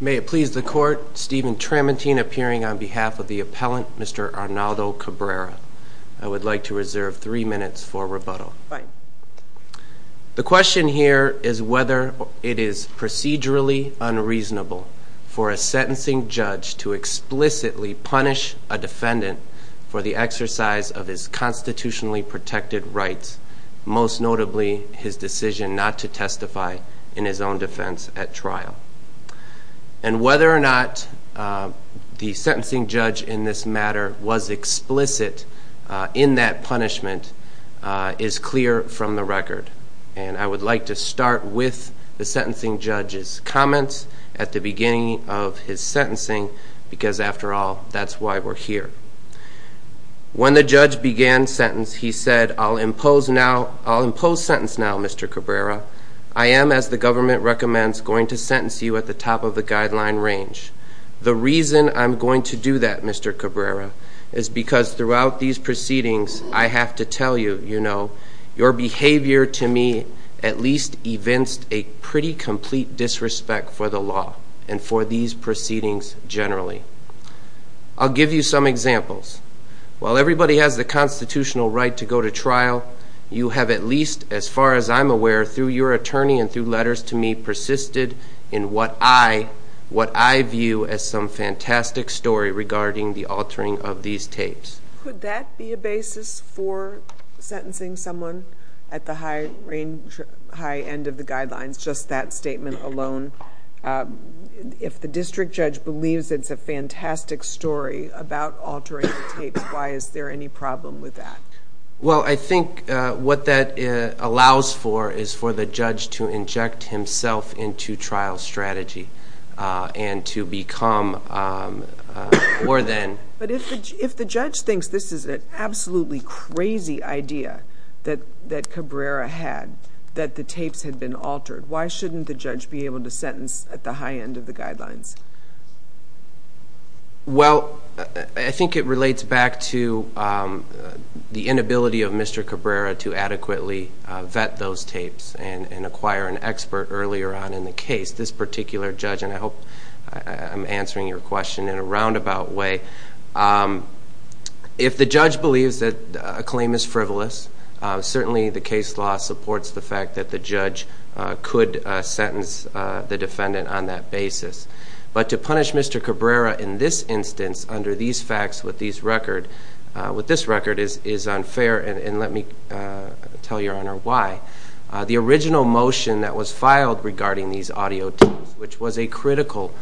May it please the court, Stephen Tramitine appearing on behalf of the appellant, Mr. The question here is whether it is procedurally unreasonable for a sentencing judge to explicitly punish a defendant for the exercise of his constitutionally protected rights, most notably his decision not to testify in his own defense at trial. And whether or not the sentencing judge in this matter was explicit in that punishment is clear from the record. And I would like to start with the sentencing judge's comments at the beginning of his sentencing, because after all, that's why we're here. When the judge began sentence, he said, I'll impose sentence now, Mr. Cabrera. I am, as the government recommends, going to sentence you at the top of the guideline range. The reason I'm going to do that, Mr. Cabrera, is because throughout these proceedings, I have to tell you, you know, your behavior to me at least evinced a pretty complete disrespect for the law and for these proceedings generally. I'll give you some examples. While everybody has the constitutional right to go to trial, you have at least, as far as I'm aware, through your attorney and through letters to me, persisted in what I view as some fantastic story regarding the altering of these tapes. Could that be a basis for sentencing someone at the high end of the guidelines, just that statement alone? If the district judge believes it's a fantastic story about altering the tapes, why is there any problem with that? Well, I think what that allows for is for the judge to inject himself into trial strategy and to become more than. But if the judge thinks this is an absolutely crazy idea that Cabrera had, that the tapes had been altered, why shouldn't the judge be able to sentence at the high end of the guidelines? Well, I think it relates back to the inability of Mr. Cabrera to adequately vet those tapes and acquire an expert earlier on in the case. This particular judge, and I hope I'm answering your question in a roundabout way. If the judge believes that a claim is frivolous, certainly the case law supports the fact that the judge could sentence the defendant on that basis. But to punish Mr. Cabrera in this instance under these facts with this record is unfair, and let me tell your Honor why. The original motion that was filed regarding these audio tapes, which was a critical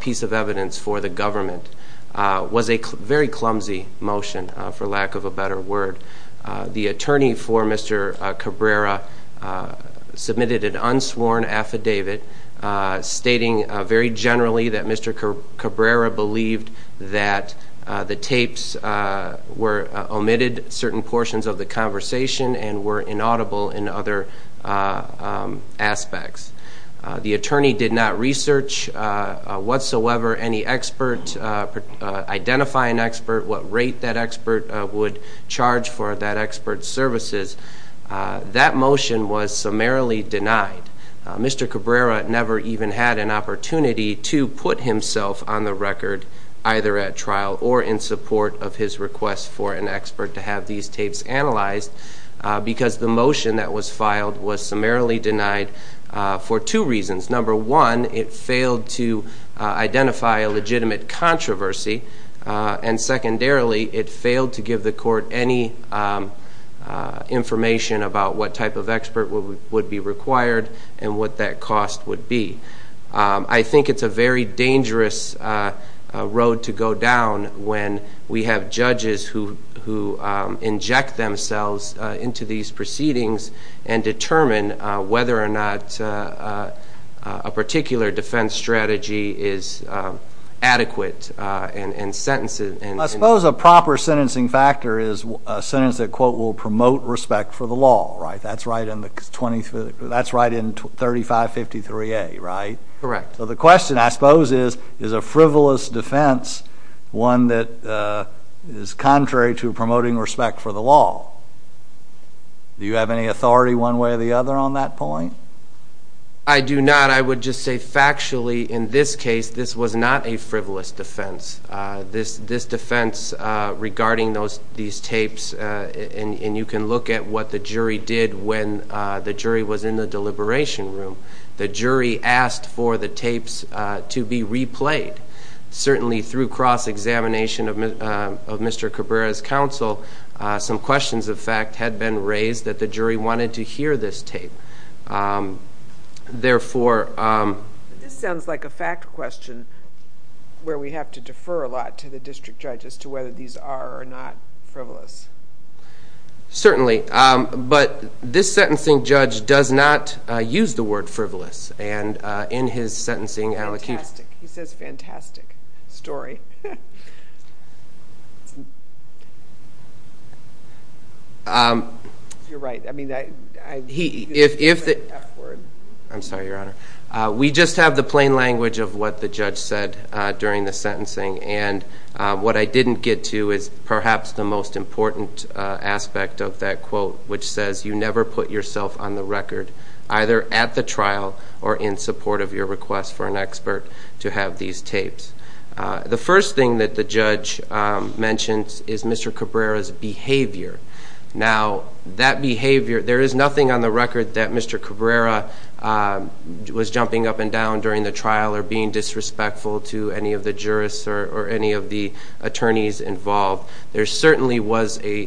piece of evidence for the government, was a very clumsy motion, for lack of a better word. The attorney for Mr. Cabrera submitted an unsworn affidavit stating very generally that Mr. Cabrera believed that the tapes omitted certain portions of the conversation and were inaudible in other aspects. The attorney did not research whatsoever any expert, identify an expert, what rate that expert would charge for that expert's services. That motion was summarily denied. Mr. Cabrera never even had an opportunity to put himself on the record, either at trial or in support of his request for an expert to have these tapes analyzed, because the motion that was filed was summarily denied for two reasons. Number one, it failed to identify a legitimate controversy, and secondarily, it failed to give the court any information about what type of expert would be required and what that cost would be. I think it's a very dangerous road to go down when we have judges who inject themselves into these proceedings and determine whether or not a particular defense strategy is adequate in sentencing. I suppose a proper sentencing factor is a sentence that, quote, will promote respect for the law, right? That's right in 3553A, right? Correct. The question, I suppose, is, is a frivolous defense one that is contrary to promoting respect for the law? Do you have any authority one way or the other on that point? I do not. I would just say factually, in this case, this was not a frivolous defense. This defense regarding these tapes, and you can look at what the jury did when the jury was in the deliberation room. The jury asked for the tapes to be replayed. Certainly, through cross-examination of Mr. Cabrera's counsel, some questions, in fact, had been raised that the jury wanted to hear this tape. Therefore... This sounds like a fact question where we have to defer a lot to the district judge as to whether these are or not frivolous. Certainly, but this sentencing judge does not use the word frivolous, and in his sentencing... Fantastic. He says fantastic story. You're right. I mean, I... He, if... I'm sorry, Your Honor. We just have the plain language of what the judge said during the sentencing, and what I didn't get to is perhaps the most important aspect of that quote, which says, you never put yourself on the record, either at the trial or in support of your request for an expert to have these tapes. The first thing that the judge mentions is Mr. Cabrera's behavior. Now, that behavior... There is nothing on the record that Mr. Cabrera was jumping up and down during the trial or being disrespectful to any of the jurists or any of the attorneys involved. There certainly was a...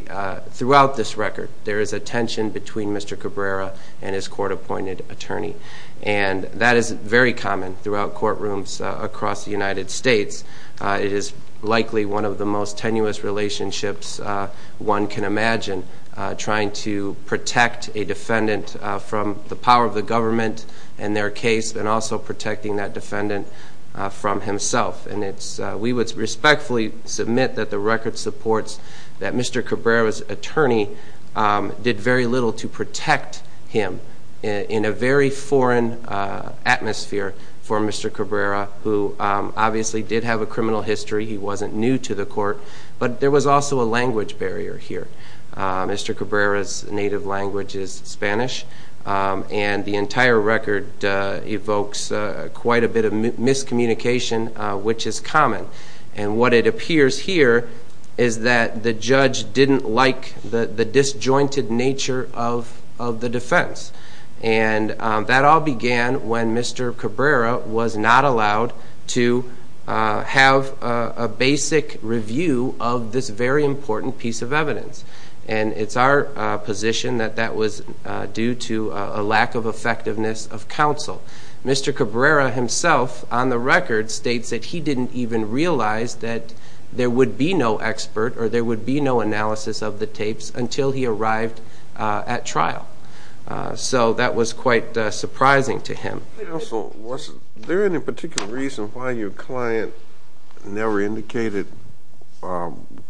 Throughout this record, there is a tension between Mr. Cabrera and his court-appointed attorney, and that is very common throughout courtrooms across the United States. It is likely one of the most tenuous relationships one can imagine, trying to protect a defendant from the power of the government in their case, and also protecting that defendant from himself, and it's... We would respectfully submit that the record supports that Mr. Cabrera's attorney did very little to protect him in a very foreign atmosphere for Mr. Cabrera, who obviously did have a criminal history. He wasn't new to the court, but there was also a language barrier here. Mr. Cabrera's native language is Spanish, and the entire record evokes quite a bit of miscommunication, which is common, and what it appears here is that the judge didn't like the disjointed nature of the defense, and that all began when Mr. Cabrera was not allowed to have a basic review of this very important piece of evidence, and it's our position that that was due to a lack of effectiveness of counsel. Mr. Cabrera himself, on the record, states that he didn't even realize that there would be no expert or there would be no analysis of the tapes until he arrived at trial, so that was quite surprising to him. Counsel, was there any particular reason why your client never indicated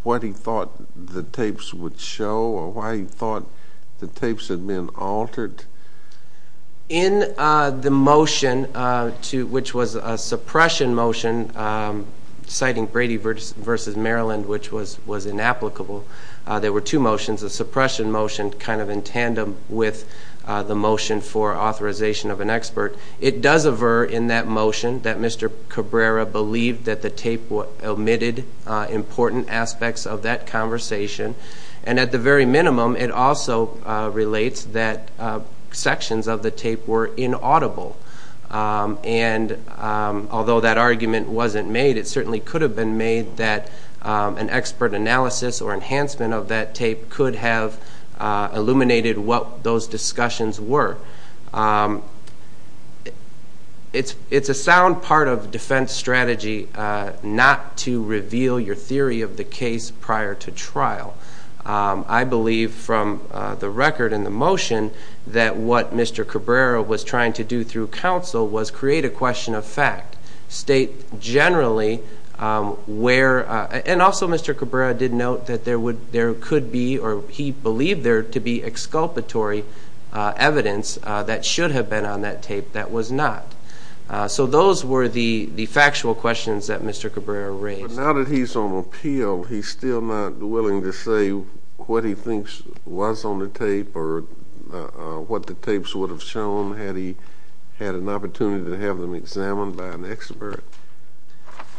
what he thought the tapes would show or why he thought the tapes had been altered? In the motion, which was a suppression motion, citing Brady v. Maryland, which was inapplicable, there were two motions, a suppression motion kind of in tandem with the motion for authorization of an expert. It does aver in that motion that Mr. Cabrera believed that the tape omitted important aspects of that conversation, and at the very minimum, it also relates that sections of the tape were inaudible, and although that argument wasn't made, it certainly could have been made that an expert analysis or enhancement of that tape could have illuminated what those discussions were. It's a sound part of defense strategy not to reveal your theory of the case prior to trial. I believe from the record in the motion that what Mr. Cabrera was trying to do through counsel was create a question of fact, state generally where, and also Mr. Cabrera did note that there could be or he believed there to be exculpatory evidence that should have been on that tape that was not. So those were the factual questions that Mr. Cabrera raised. But now that he's on appeal, he's still not willing to say what he thinks was on the tape or what the tapes would have shown had he had an opportunity to have them examined by an expert?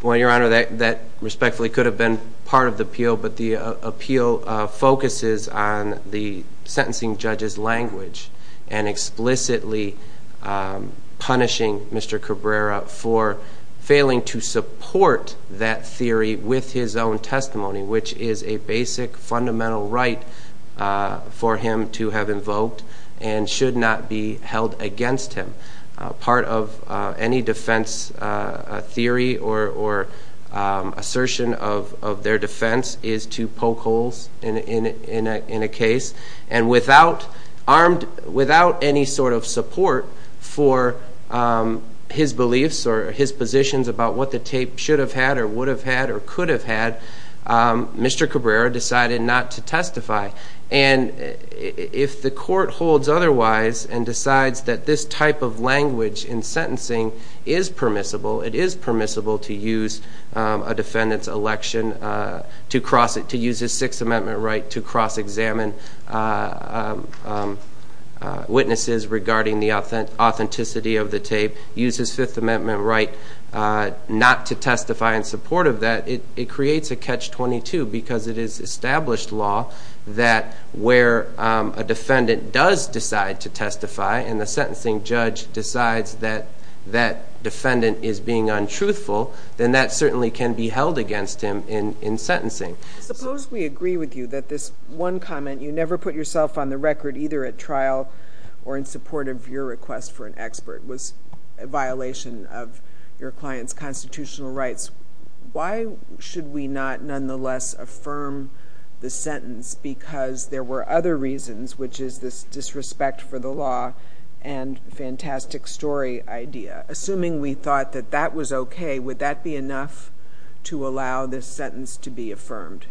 Well, Your Honor, that respectfully could have been part of the appeal, but the appeal focuses on the sentencing judge's language and explicitly punishing Mr. Cabrera for failing to support that theory with his own testimony, which is a basic fundamental right for him to have invoked and should not be held against him. Part of any defense theory or assertion of their defense is to poke holes in a case, and without any sort of support for his beliefs or his positions about what the tape should have had or would have had or could have had, Mr. Cabrera decided not to testify. And if the court holds otherwise and decides that this type of language in sentencing is permissible, it is permissible to use a defendant's election to cross it, to use his Sixth Amendment right to cross-examine witnesses regarding the authenticity of the tape, use his Fifth Amendment right not to testify in support of that, it creates a catch-22 because it is established law that where a defendant does decide to testify and the sentencing judge decides that that defendant is being untruthful, then that certainly can be held against him in sentencing. Suppose we agree with you that this one comment, you never put yourself on the record either at trial or in support of your request for an expert, was a violation of your client's constitutional rights. Why should we not nonetheless affirm the sentence because there were other reasons, which is this disrespect for the law and fantastic story idea? Assuming we thought that that was okay, would that be enough to allow this sentence to be affirmed?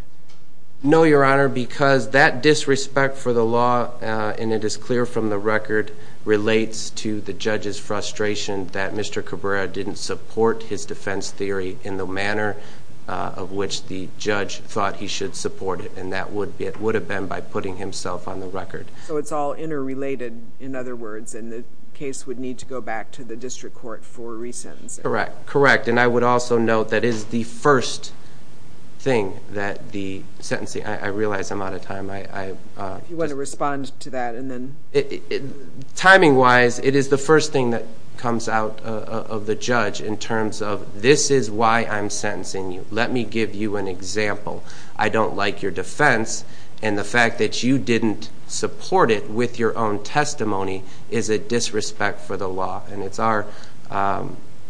No, Your Honor, because that disrespect for the law, and it is clear from the record, relates to the judge's frustration that Mr. Cabrera didn't support his defense theory in the manner of which the judge thought he should support it, and that would have been by putting himself on the record. So it's all interrelated, in other words, and the case would need to go back to the district court for re-sentencing. Correct, and I would also note that is the first thing that the sentencing, I realize I'm out of time. If you want to respond to that. Timing-wise, it is the first thing that comes out of the judge in terms of, this is why I'm sentencing you. Let me give you an example. I don't like your defense, and the fact that you didn't support it with your own testimony is a disrespect for the law, and it's our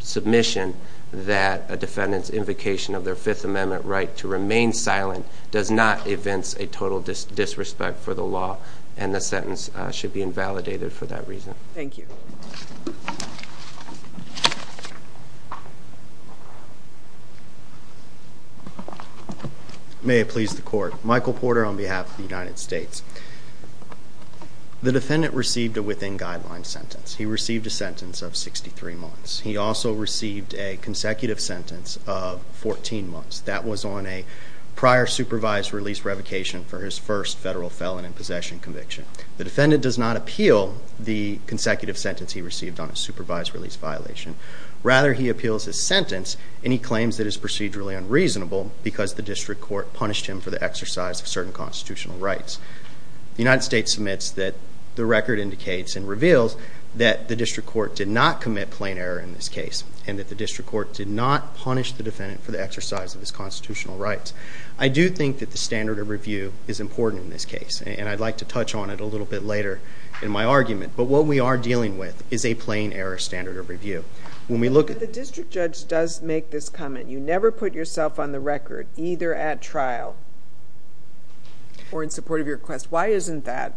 submission that a defendant's invocation of their Fifth Amendment right to remain silent does not evince a total disrespect for the law, and the sentence should be invalidated for that reason. Thank you. May it please the Court. Michael Porter on behalf of the United States. The defendant received a within-guideline sentence. He received a sentence of 63 months. He also received a consecutive sentence of 14 months. That was on a prior supervised release revocation for his first federal felon in possession conviction. The defendant does not appeal the consecutive sentence he received on a supervised release violation. Rather, he appeals his sentence, and he claims that it is procedurally unreasonable because the district court punished him for the exercise of certain constitutional rights. The United States submits that the record indicates and reveals that the district court did not commit plain error in this case, and that the district court did not punish the defendant for the exercise of his constitutional rights. I do think that the standard of review is important in this case, and I'd like to touch on it a little bit later in my argument, but what we are dealing with is a plain error standard of review. But the district judge does make this comment. You never put yourself on the record, either at trial or in support of your request. Why isn't that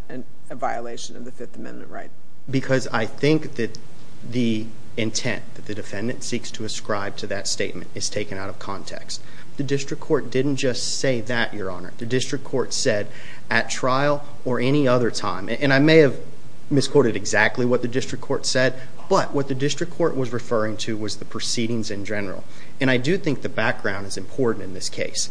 a violation of the Fifth Amendment right? Because I think that the intent that the defendant seeks to ascribe to that statement is taken out of context. The district court didn't just say that, Your Honor. The district court said at trial or any other time, and I may have misquoted exactly what the district court said, but what the district court was referring to was the proceedings in general, and I do think the background is important in this case.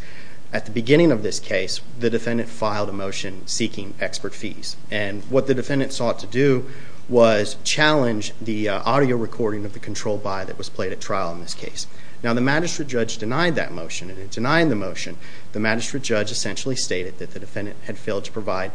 At the beginning of this case, the defendant filed a motion seeking expert fees, and what the defendant sought to do was challenge the audio recording of the control by that was played at trial in this case. Now, the magistrate judge denied that motion, and in denying the motion, the magistrate judge essentially stated that the defendant had failed to provide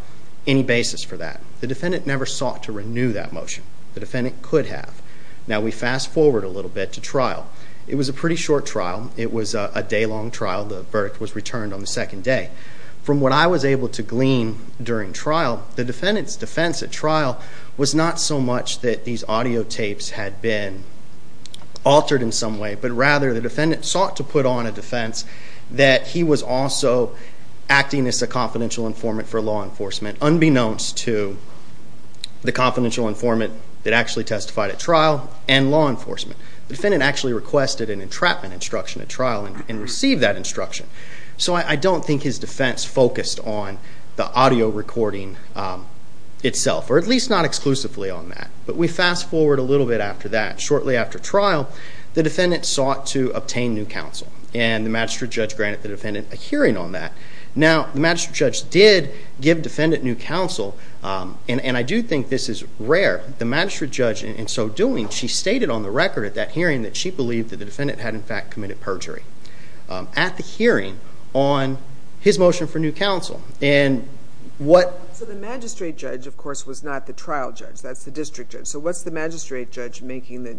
any basis for that. The defendant never sought to renew that motion. The defendant could have. Now, we fast forward a little bit to trial. It was a pretty short trial. It was a day-long trial. The verdict was returned on the second day. From what I was able to glean during trial, the defendant's defense at trial was not so much that these audio tapes had been altered in some way, but rather the defendant sought to put on a defense that he was also acting as a confidential informant for law enforcement, unbeknownst to the confidential informant that actually testified at trial and law enforcement. The defendant actually requested an entrapment instruction at trial and received that instruction. So I don't think his defense focused on the audio recording itself, or at least not exclusively on that. But we fast forward a little bit after that. Shortly after trial, the defendant sought to obtain new counsel, and the magistrate judge granted the defendant a hearing on that. Now, the magistrate judge did give defendant new counsel, and I do think this is rare. The magistrate judge, in so doing, she stated on the record at that hearing that she believed that the defendant had, in fact, committed perjury. At the hearing on his motion for new counsel, and what... So the magistrate judge, of course, was not the trial judge. That's the district judge. So what's the magistrate judge making the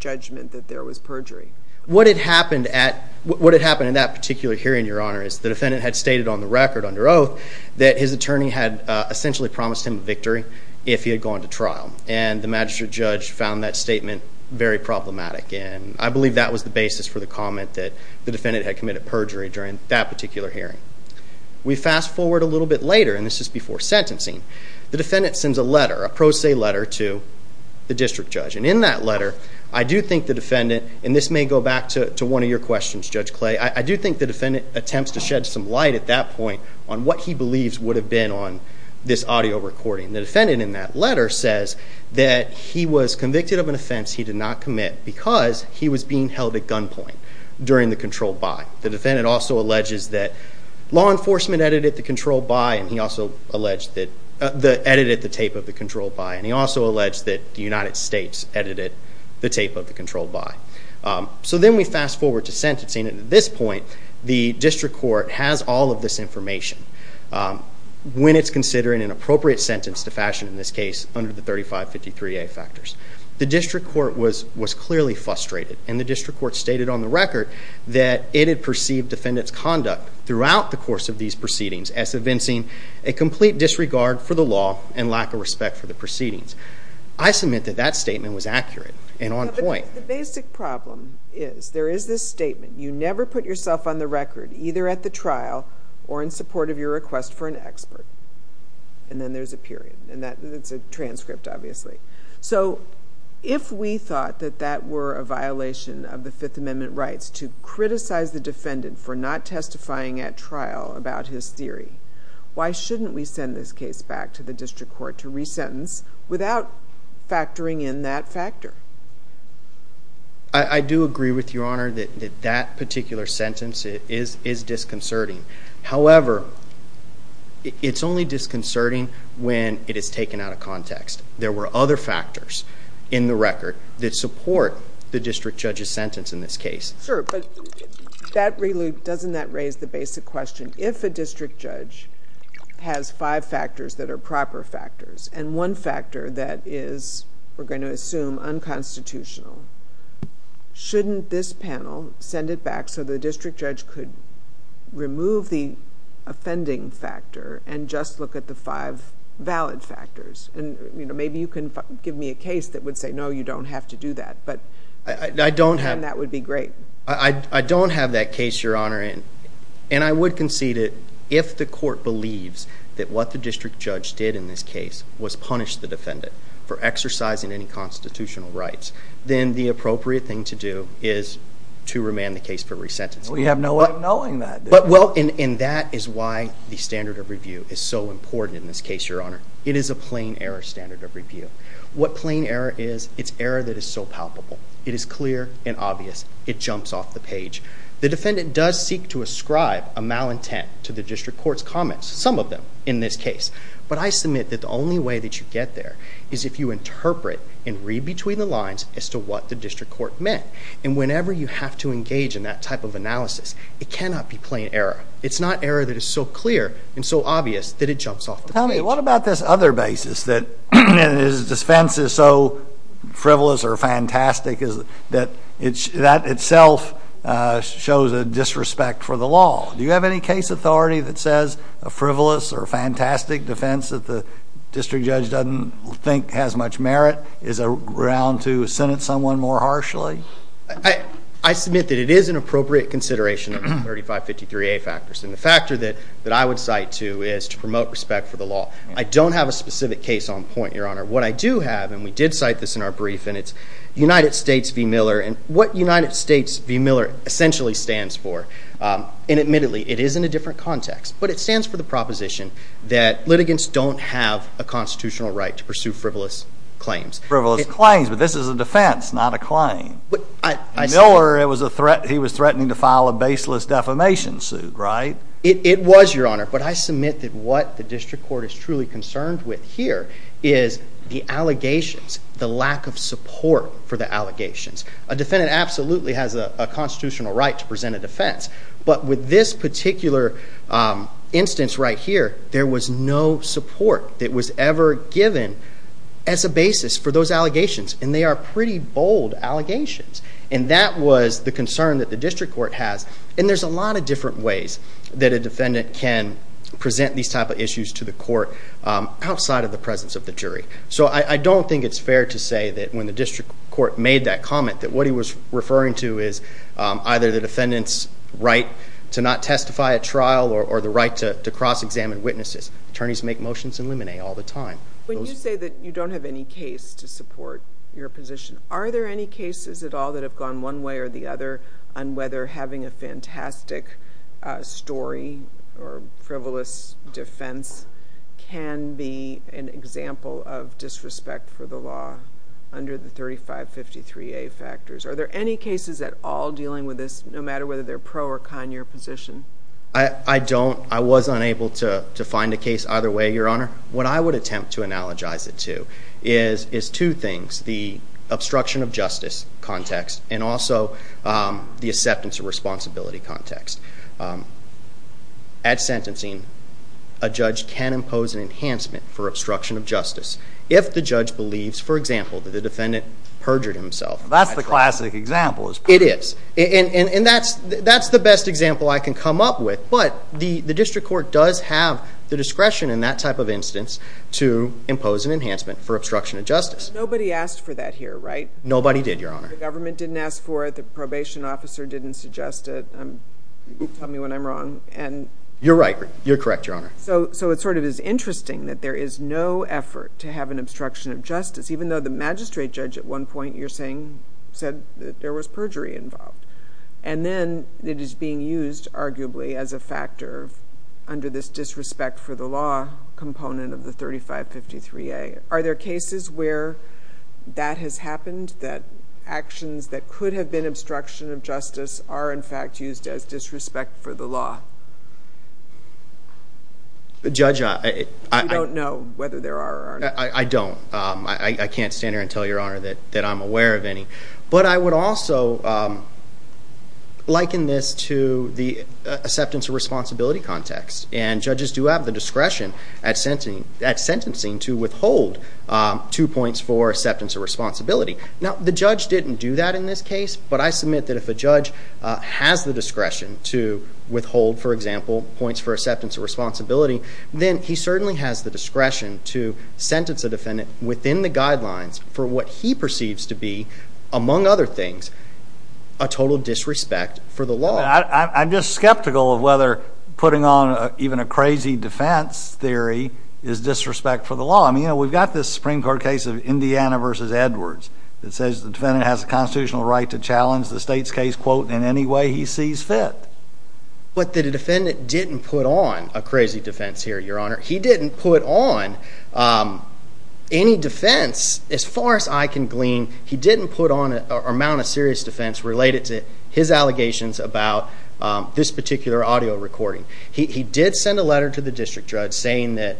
judgment that there was perjury? What had happened in that particular hearing, Your Honor, is the defendant had stated on the record under oath that his attorney had essentially promised him victory if he had gone to trial, and the magistrate judge found that statement very problematic. And I believe that was the basis for the comment that the defendant had committed perjury during that particular hearing. We fast forward a little bit later, and this is before sentencing. The defendant sends a letter, a pro se letter, to the district judge. And in that letter, I do think the defendant, and this may go back to one of your questions, Judge Clay, I do think the defendant attempts to shed some light at that point on what he believes would have been on this audio recording. The defendant in that letter says that he was convicted of an offense he did not commit because he was being held at gunpoint during the controlled by. The defendant also alleges that law enforcement edited the tape of the controlled by, and he also alleged that the United States edited the tape of the controlled by. So then we fast forward to sentencing, and at this point, the district court has all of this information. When it's considering an appropriate sentence to fashion in this case under the 3553A factors. The district court was clearly frustrated, and the district court stated on the record that it had perceived defendant's conduct throughout the course of these proceedings as evincing a complete disregard for the law and lack of respect for the proceedings. I submit that that statement was accurate and on point. The basic problem is there is this statement, you never put yourself on the record either at the trial or in support of your request for an expert, and then there's a period, and that's a transcript obviously. So if we thought that that were a violation of the Fifth Amendment rights to criticize the defendant for not testifying at trial about his theory, why shouldn't we send this case back to the district court to resentence without factoring in that factor? I do agree with Your Honor that that particular sentence is disconcerting. However, it's only disconcerting when it is taken out of context. There were other factors in the record that support the district judge's sentence in this case. Sure, but doesn't that raise the basic question? If a district judge has five factors that are proper factors, and one factor that is, we're going to assume, unconstitutional, shouldn't this panel send it back so the district judge could remove the offending factor and just look at the five valid factors? Maybe you can give me a case that would say, no, you don't have to do that, and that would be great. I don't have that case, Your Honor, and I would concede it If the court believes that what the district judge did in this case was punish the defendant for exercising any constitutional rights, then the appropriate thing to do is to remand the case for resentencing. We have no way of knowing that. And that is why the standard of review is so important in this case, Your Honor. It is a plain error standard of review. What plain error is, it's error that is so palpable. It is clear and obvious. It jumps off the page. The defendant does seek to ascribe a malintent to the district court's comments, some of them in this case. But I submit that the only way that you get there is if you interpret and read between the lines as to what the district court meant. And whenever you have to engage in that type of analysis, it cannot be plain error. It's not error that is so clear and so obvious that it jumps off the page. Tell me, what about this other basis that is dispensed as so frivolous or fantastic that that itself shows a disrespect for the law? Do you have any case authority that says a frivolous or fantastic defense that the district judge doesn't think has much merit is around to sentence someone more harshly? I submit that it is an appropriate consideration of the 3553A factors. And the factor that I would cite to is to promote respect for the law. I don't have a specific case on point, Your Honor. What I do have, and we did cite this in our brief, and it's United States v. Miller. And what United States v. Miller essentially stands for, and admittedly it is in a different context, but it stands for the proposition that litigants don't have a constitutional right to pursue frivolous claims. Frivolous claims, but this is a defense, not a claim. Miller, he was threatening to file a baseless defamation suit, right? It was, Your Honor. But I submit that what the district court is truly concerned with here is the allegations, the lack of support for the allegations. A defendant absolutely has a constitutional right to present a defense. But with this particular instance right here, there was no support that was ever given as a basis for those allegations. And they are pretty bold allegations. And that was the concern that the district court has. And there's a lot of different ways that a defendant can present these type of issues to the court outside of the presence of the jury. So I don't think it's fair to say that when the district court made that comment, that what he was referring to is either the defendant's right to not testify at trial or the right to cross-examine witnesses. Attorneys make motions in limine all the time. When you say that you don't have any case to support your position, are there any cases at all that have gone one way or the other on whether having a fantastic story or frivolous defense can be an example of disrespect for the law under the 3553A factors? Are there any cases at all dealing with this, no matter whether they're pro or con your position? I don't. I was unable to find a case either way, Your Honor. What I would attempt to analogize it to is two things. The obstruction of justice context and also the acceptance of responsibility context. At sentencing, a judge can impose an enhancement for obstruction of justice if the judge believes, for example, that the defendant perjured himself at trial. That's the classic example. It is. And that's the best example I can come up with. But the district court does have the discretion in that type of instance to impose an enhancement for obstruction of justice. Nobody asked for that here, right? Nobody did, Your Honor. The government didn't ask for it. The probation officer didn't suggest it. Tell me when I'm wrong. You're right. You're correct, Your Honor. So it sort of is interesting that there is no effort to have an obstruction of justice, even though the magistrate judge at one point you're saying said that there was perjury involved. And then it is being used arguably as a factor under this disrespect for the law component of the 3553A. Are there cases where that has happened, that actions that could have been obstruction of justice are in fact used as disrespect for the law? Judge, I don't know whether there are or not. I don't. I can't stand here and tell Your Honor that I'm aware of any. But I would also liken this to the acceptance of responsibility context. And judges do have the discretion at sentencing to withhold two points for acceptance of responsibility. Now, the judge didn't do that in this case, but I submit that if a judge has the discretion to withhold, for example, points for acceptance of responsibility, then he certainly has the discretion to sentence a defendant within the guidelines for what he perceives to be, among other things, a total disrespect for the law. I'm just skeptical of whether putting on even a crazy defense theory is disrespect for the law. I mean, we've got this Supreme Court case of Indiana v. Edwards that says the defendant has a constitutional right to challenge the state's case, quote, in any way he sees fit. But the defendant didn't put on a crazy defense theory, Your Honor. He didn't put on any defense. As far as I can glean, he didn't put on an amount of serious defense related to his allegations about this particular audio recording. He did send a letter to the district judge saying that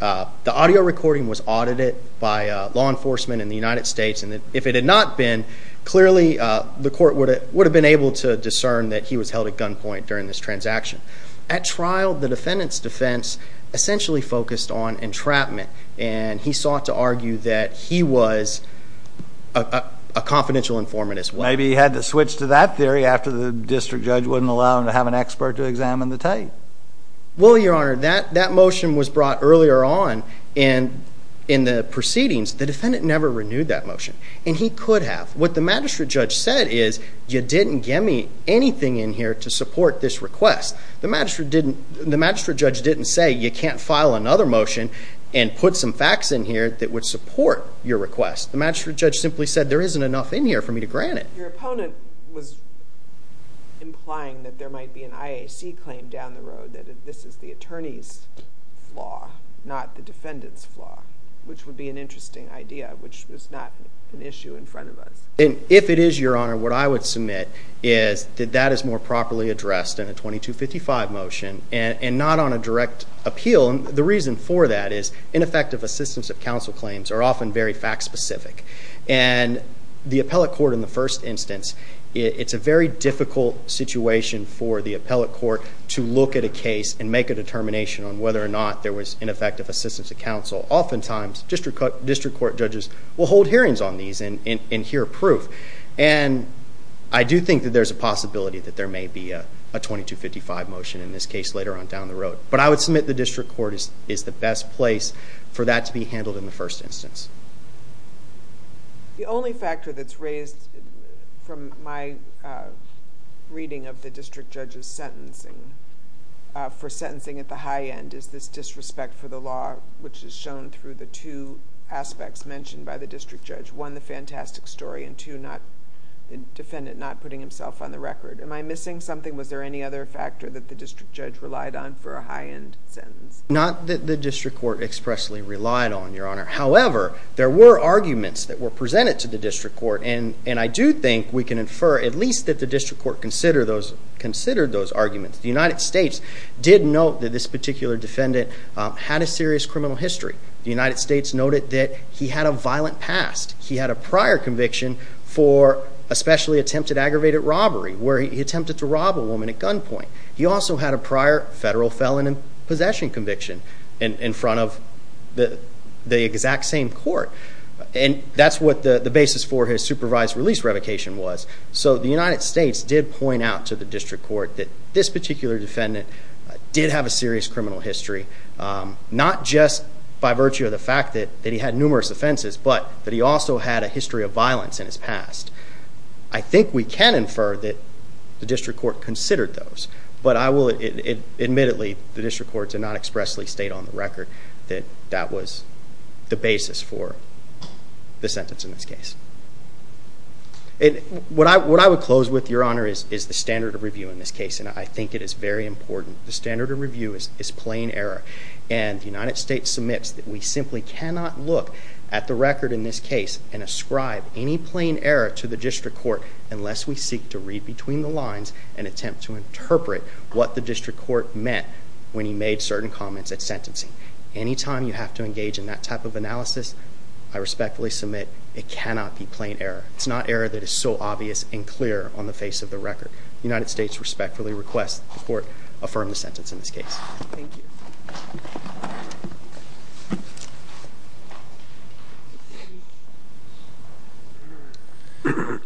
the audio recording was audited by law enforcement in the United States and that if it had not been, clearly the court would have been able to discern that he was held at gunpoint during this transaction. At trial, the defendant's defense essentially focused on entrapment, and he sought to argue that he was a confidential informant as well. Maybe he had to switch to that theory after the district judge wouldn't allow him to have an expert to examine the tape. Well, Your Honor, that motion was brought earlier on in the proceedings. The defendant never renewed that motion, and he could have. What the magistrate judge said is, you didn't get me anything in here to support this request. The magistrate judge didn't say, you can't file another motion and put some facts in here that would support your request. The magistrate judge simply said, there isn't enough in here for me to grant it. Your opponent was implying that there might be an IAC claim down the road, that this is the attorney's flaw, not the defendant's flaw, which would be an interesting idea, which was not an issue in front of us. If it is, Your Honor, what I would submit is that that is more properly addressed in a 2255 motion and not on a direct appeal. The reason for that is ineffective assistance of counsel claims are often very fact-specific. And the appellate court, in the first instance, it's a very difficult situation for the appellate court to look at a case and make a determination on whether or not there was ineffective assistance of counsel. Oftentimes, district court judges will hold hearings on these and hear proof. And I do think that there's a possibility that there may be a 2255 motion in this case later on down the road. But I would submit the district court is the best place for that to be handled in the first instance. The only factor that's raised from my reading of the district judge's sentencing for sentencing at the high end is this disrespect for the law, which is shown through the two aspects mentioned by the district judge. One, the fantastic story, and two, the defendant not putting himself on the record. Am I missing something? Was there any other factor that the district judge relied on for a high-end sentence? Not that the district court expressly relied on, Your Honor. However, there were arguments that were presented to the district court. And I do think we can infer at least that the district court considered those arguments. The United States did note that this particular defendant had a serious criminal history. The United States noted that he had a violent past. He had a prior conviction for a specially attempted aggravated robbery where he attempted to rob a woman at gunpoint. He also had a prior federal felon in possession conviction in front of the exact same court. And that's what the basis for his supervised release revocation was. So the United States did point out to the district court that this particular defendant did have a serious criminal history, not just by virtue of the fact that he had numerous offenses, but that he also had a history of violence in his past. I think we can infer that the district court considered those. But I will admittedly, the district court did not expressly state on the record that that was the basis for the sentence in this case. What I would close with, Your Honor, is the standard of review in this case. And I think it is very important. The standard of review is plain error. And the United States submits that we simply cannot look at the record in this case and ascribe any plain error to the district court unless we seek to read between the lines and attempt to interpret what the district court meant when he made certain comments at sentencing. Any time you have to engage in that type of analysis, I respectfully submit it cannot be plain error. It's not error that is so obvious and clear on the face of the record. The United States respectfully requests that the court affirm the sentence in this case. Thank you. The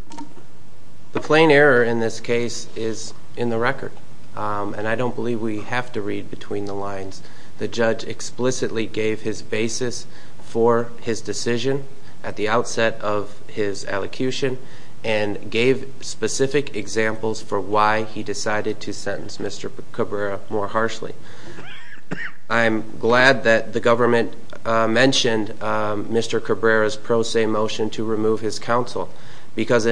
plain error in this case is in the record. And I don't believe we have to read between the lines. The judge explicitly gave his basis for his decision at the outset of his elocution and gave specific examples for why he decided to sentence Mr. Cabrera more harshly. I'm glad that the government mentioned Mr. Cabrera's pro se motion to remove his counsel because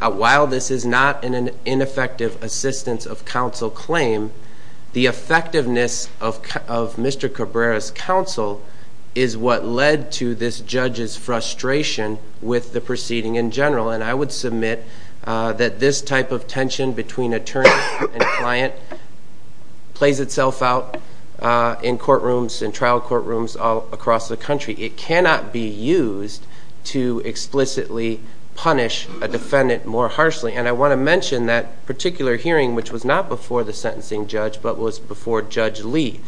while this is not an ineffective assistance of counsel claim, the effectiveness of Mr. Cabrera's counsel is what led to this judge's frustration with the proceeding in general. And I would submit that this type of tension between attorney and client plays itself out in courtrooms, in trial courtrooms all across the country. It cannot be used to explicitly punish a defendant more harshly. And I want to mention that particular hearing which was not before the sentencing judge but was before Judge Lee.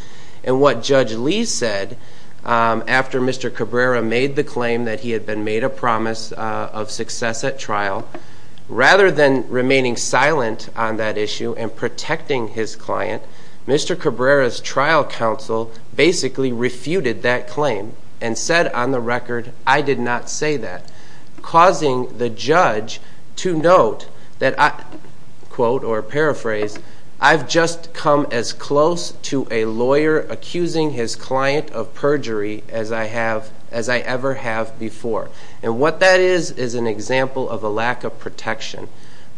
And what Judge Lee said after Mr. Cabrera made the claim that he had been made a promise of success at trial, rather than remaining silent on that issue and protecting his client, Mr. Cabrera's trial counsel basically refuted that claim and said on the record, I did not say that, causing the judge to note that, quote or paraphrase, I've just come as close to a lawyer accusing his client of perjury as I ever have before. And what that is is an example of a lack of protection.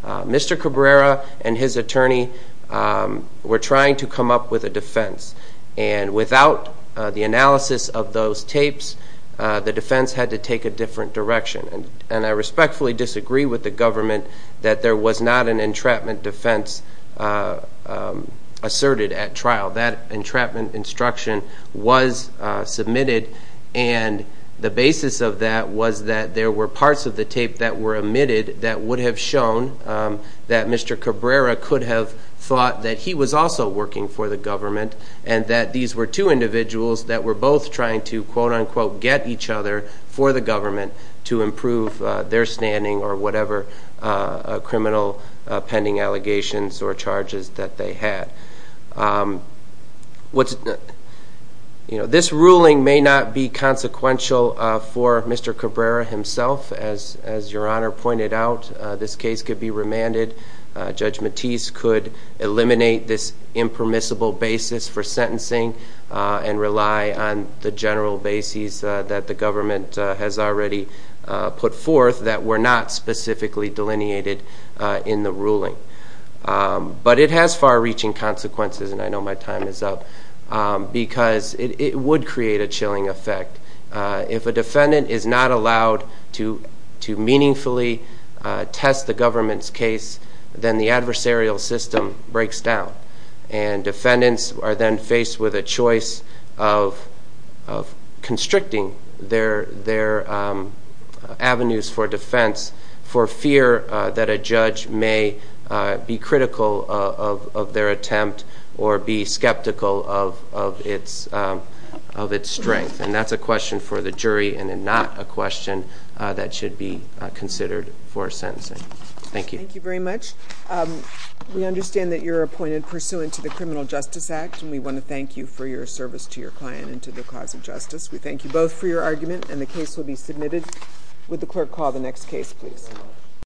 Mr. Cabrera and his attorney were trying to come up with a defense. And without the analysis of those tapes, the defense had to take a different direction. And I respectfully disagree with the government that there was not an entrapment defense asserted at trial. That entrapment instruction was submitted, and the basis of that was that there were parts of the tape that were omitted that would have shown that Mr. Cabrera could have thought that he was also working for the government and that these were two individuals that were both trying to, quote unquote, get each other for the government to improve their standing or whatever criminal pending allegations or charges that they had. This ruling may not be consequential for Mr. Cabrera himself. As Your Honor pointed out, this case could be remanded. Judge Matisse could eliminate this impermissible basis for sentencing and rely on the general bases that the government has already put forth that were not specifically delineated in the ruling. But it has far-reaching consequences, and I know my time is up, because it would create a chilling effect. If a defendant is not allowed to meaningfully test the government's case, then the adversarial system breaks down. And defendants are then faced with a choice of constricting their avenues for defense for fear that a judge may be critical of their attempt or be skeptical of its strength. And that's a question for the jury and not a question that should be considered for sentencing. Thank you. Thank you very much. We understand that you're appointed pursuant to the Criminal Justice Act, and we want to thank you for your service to your client and to the cause of justice. We thank you both for your argument, and the case will be submitted. Would the clerk call the next case, please?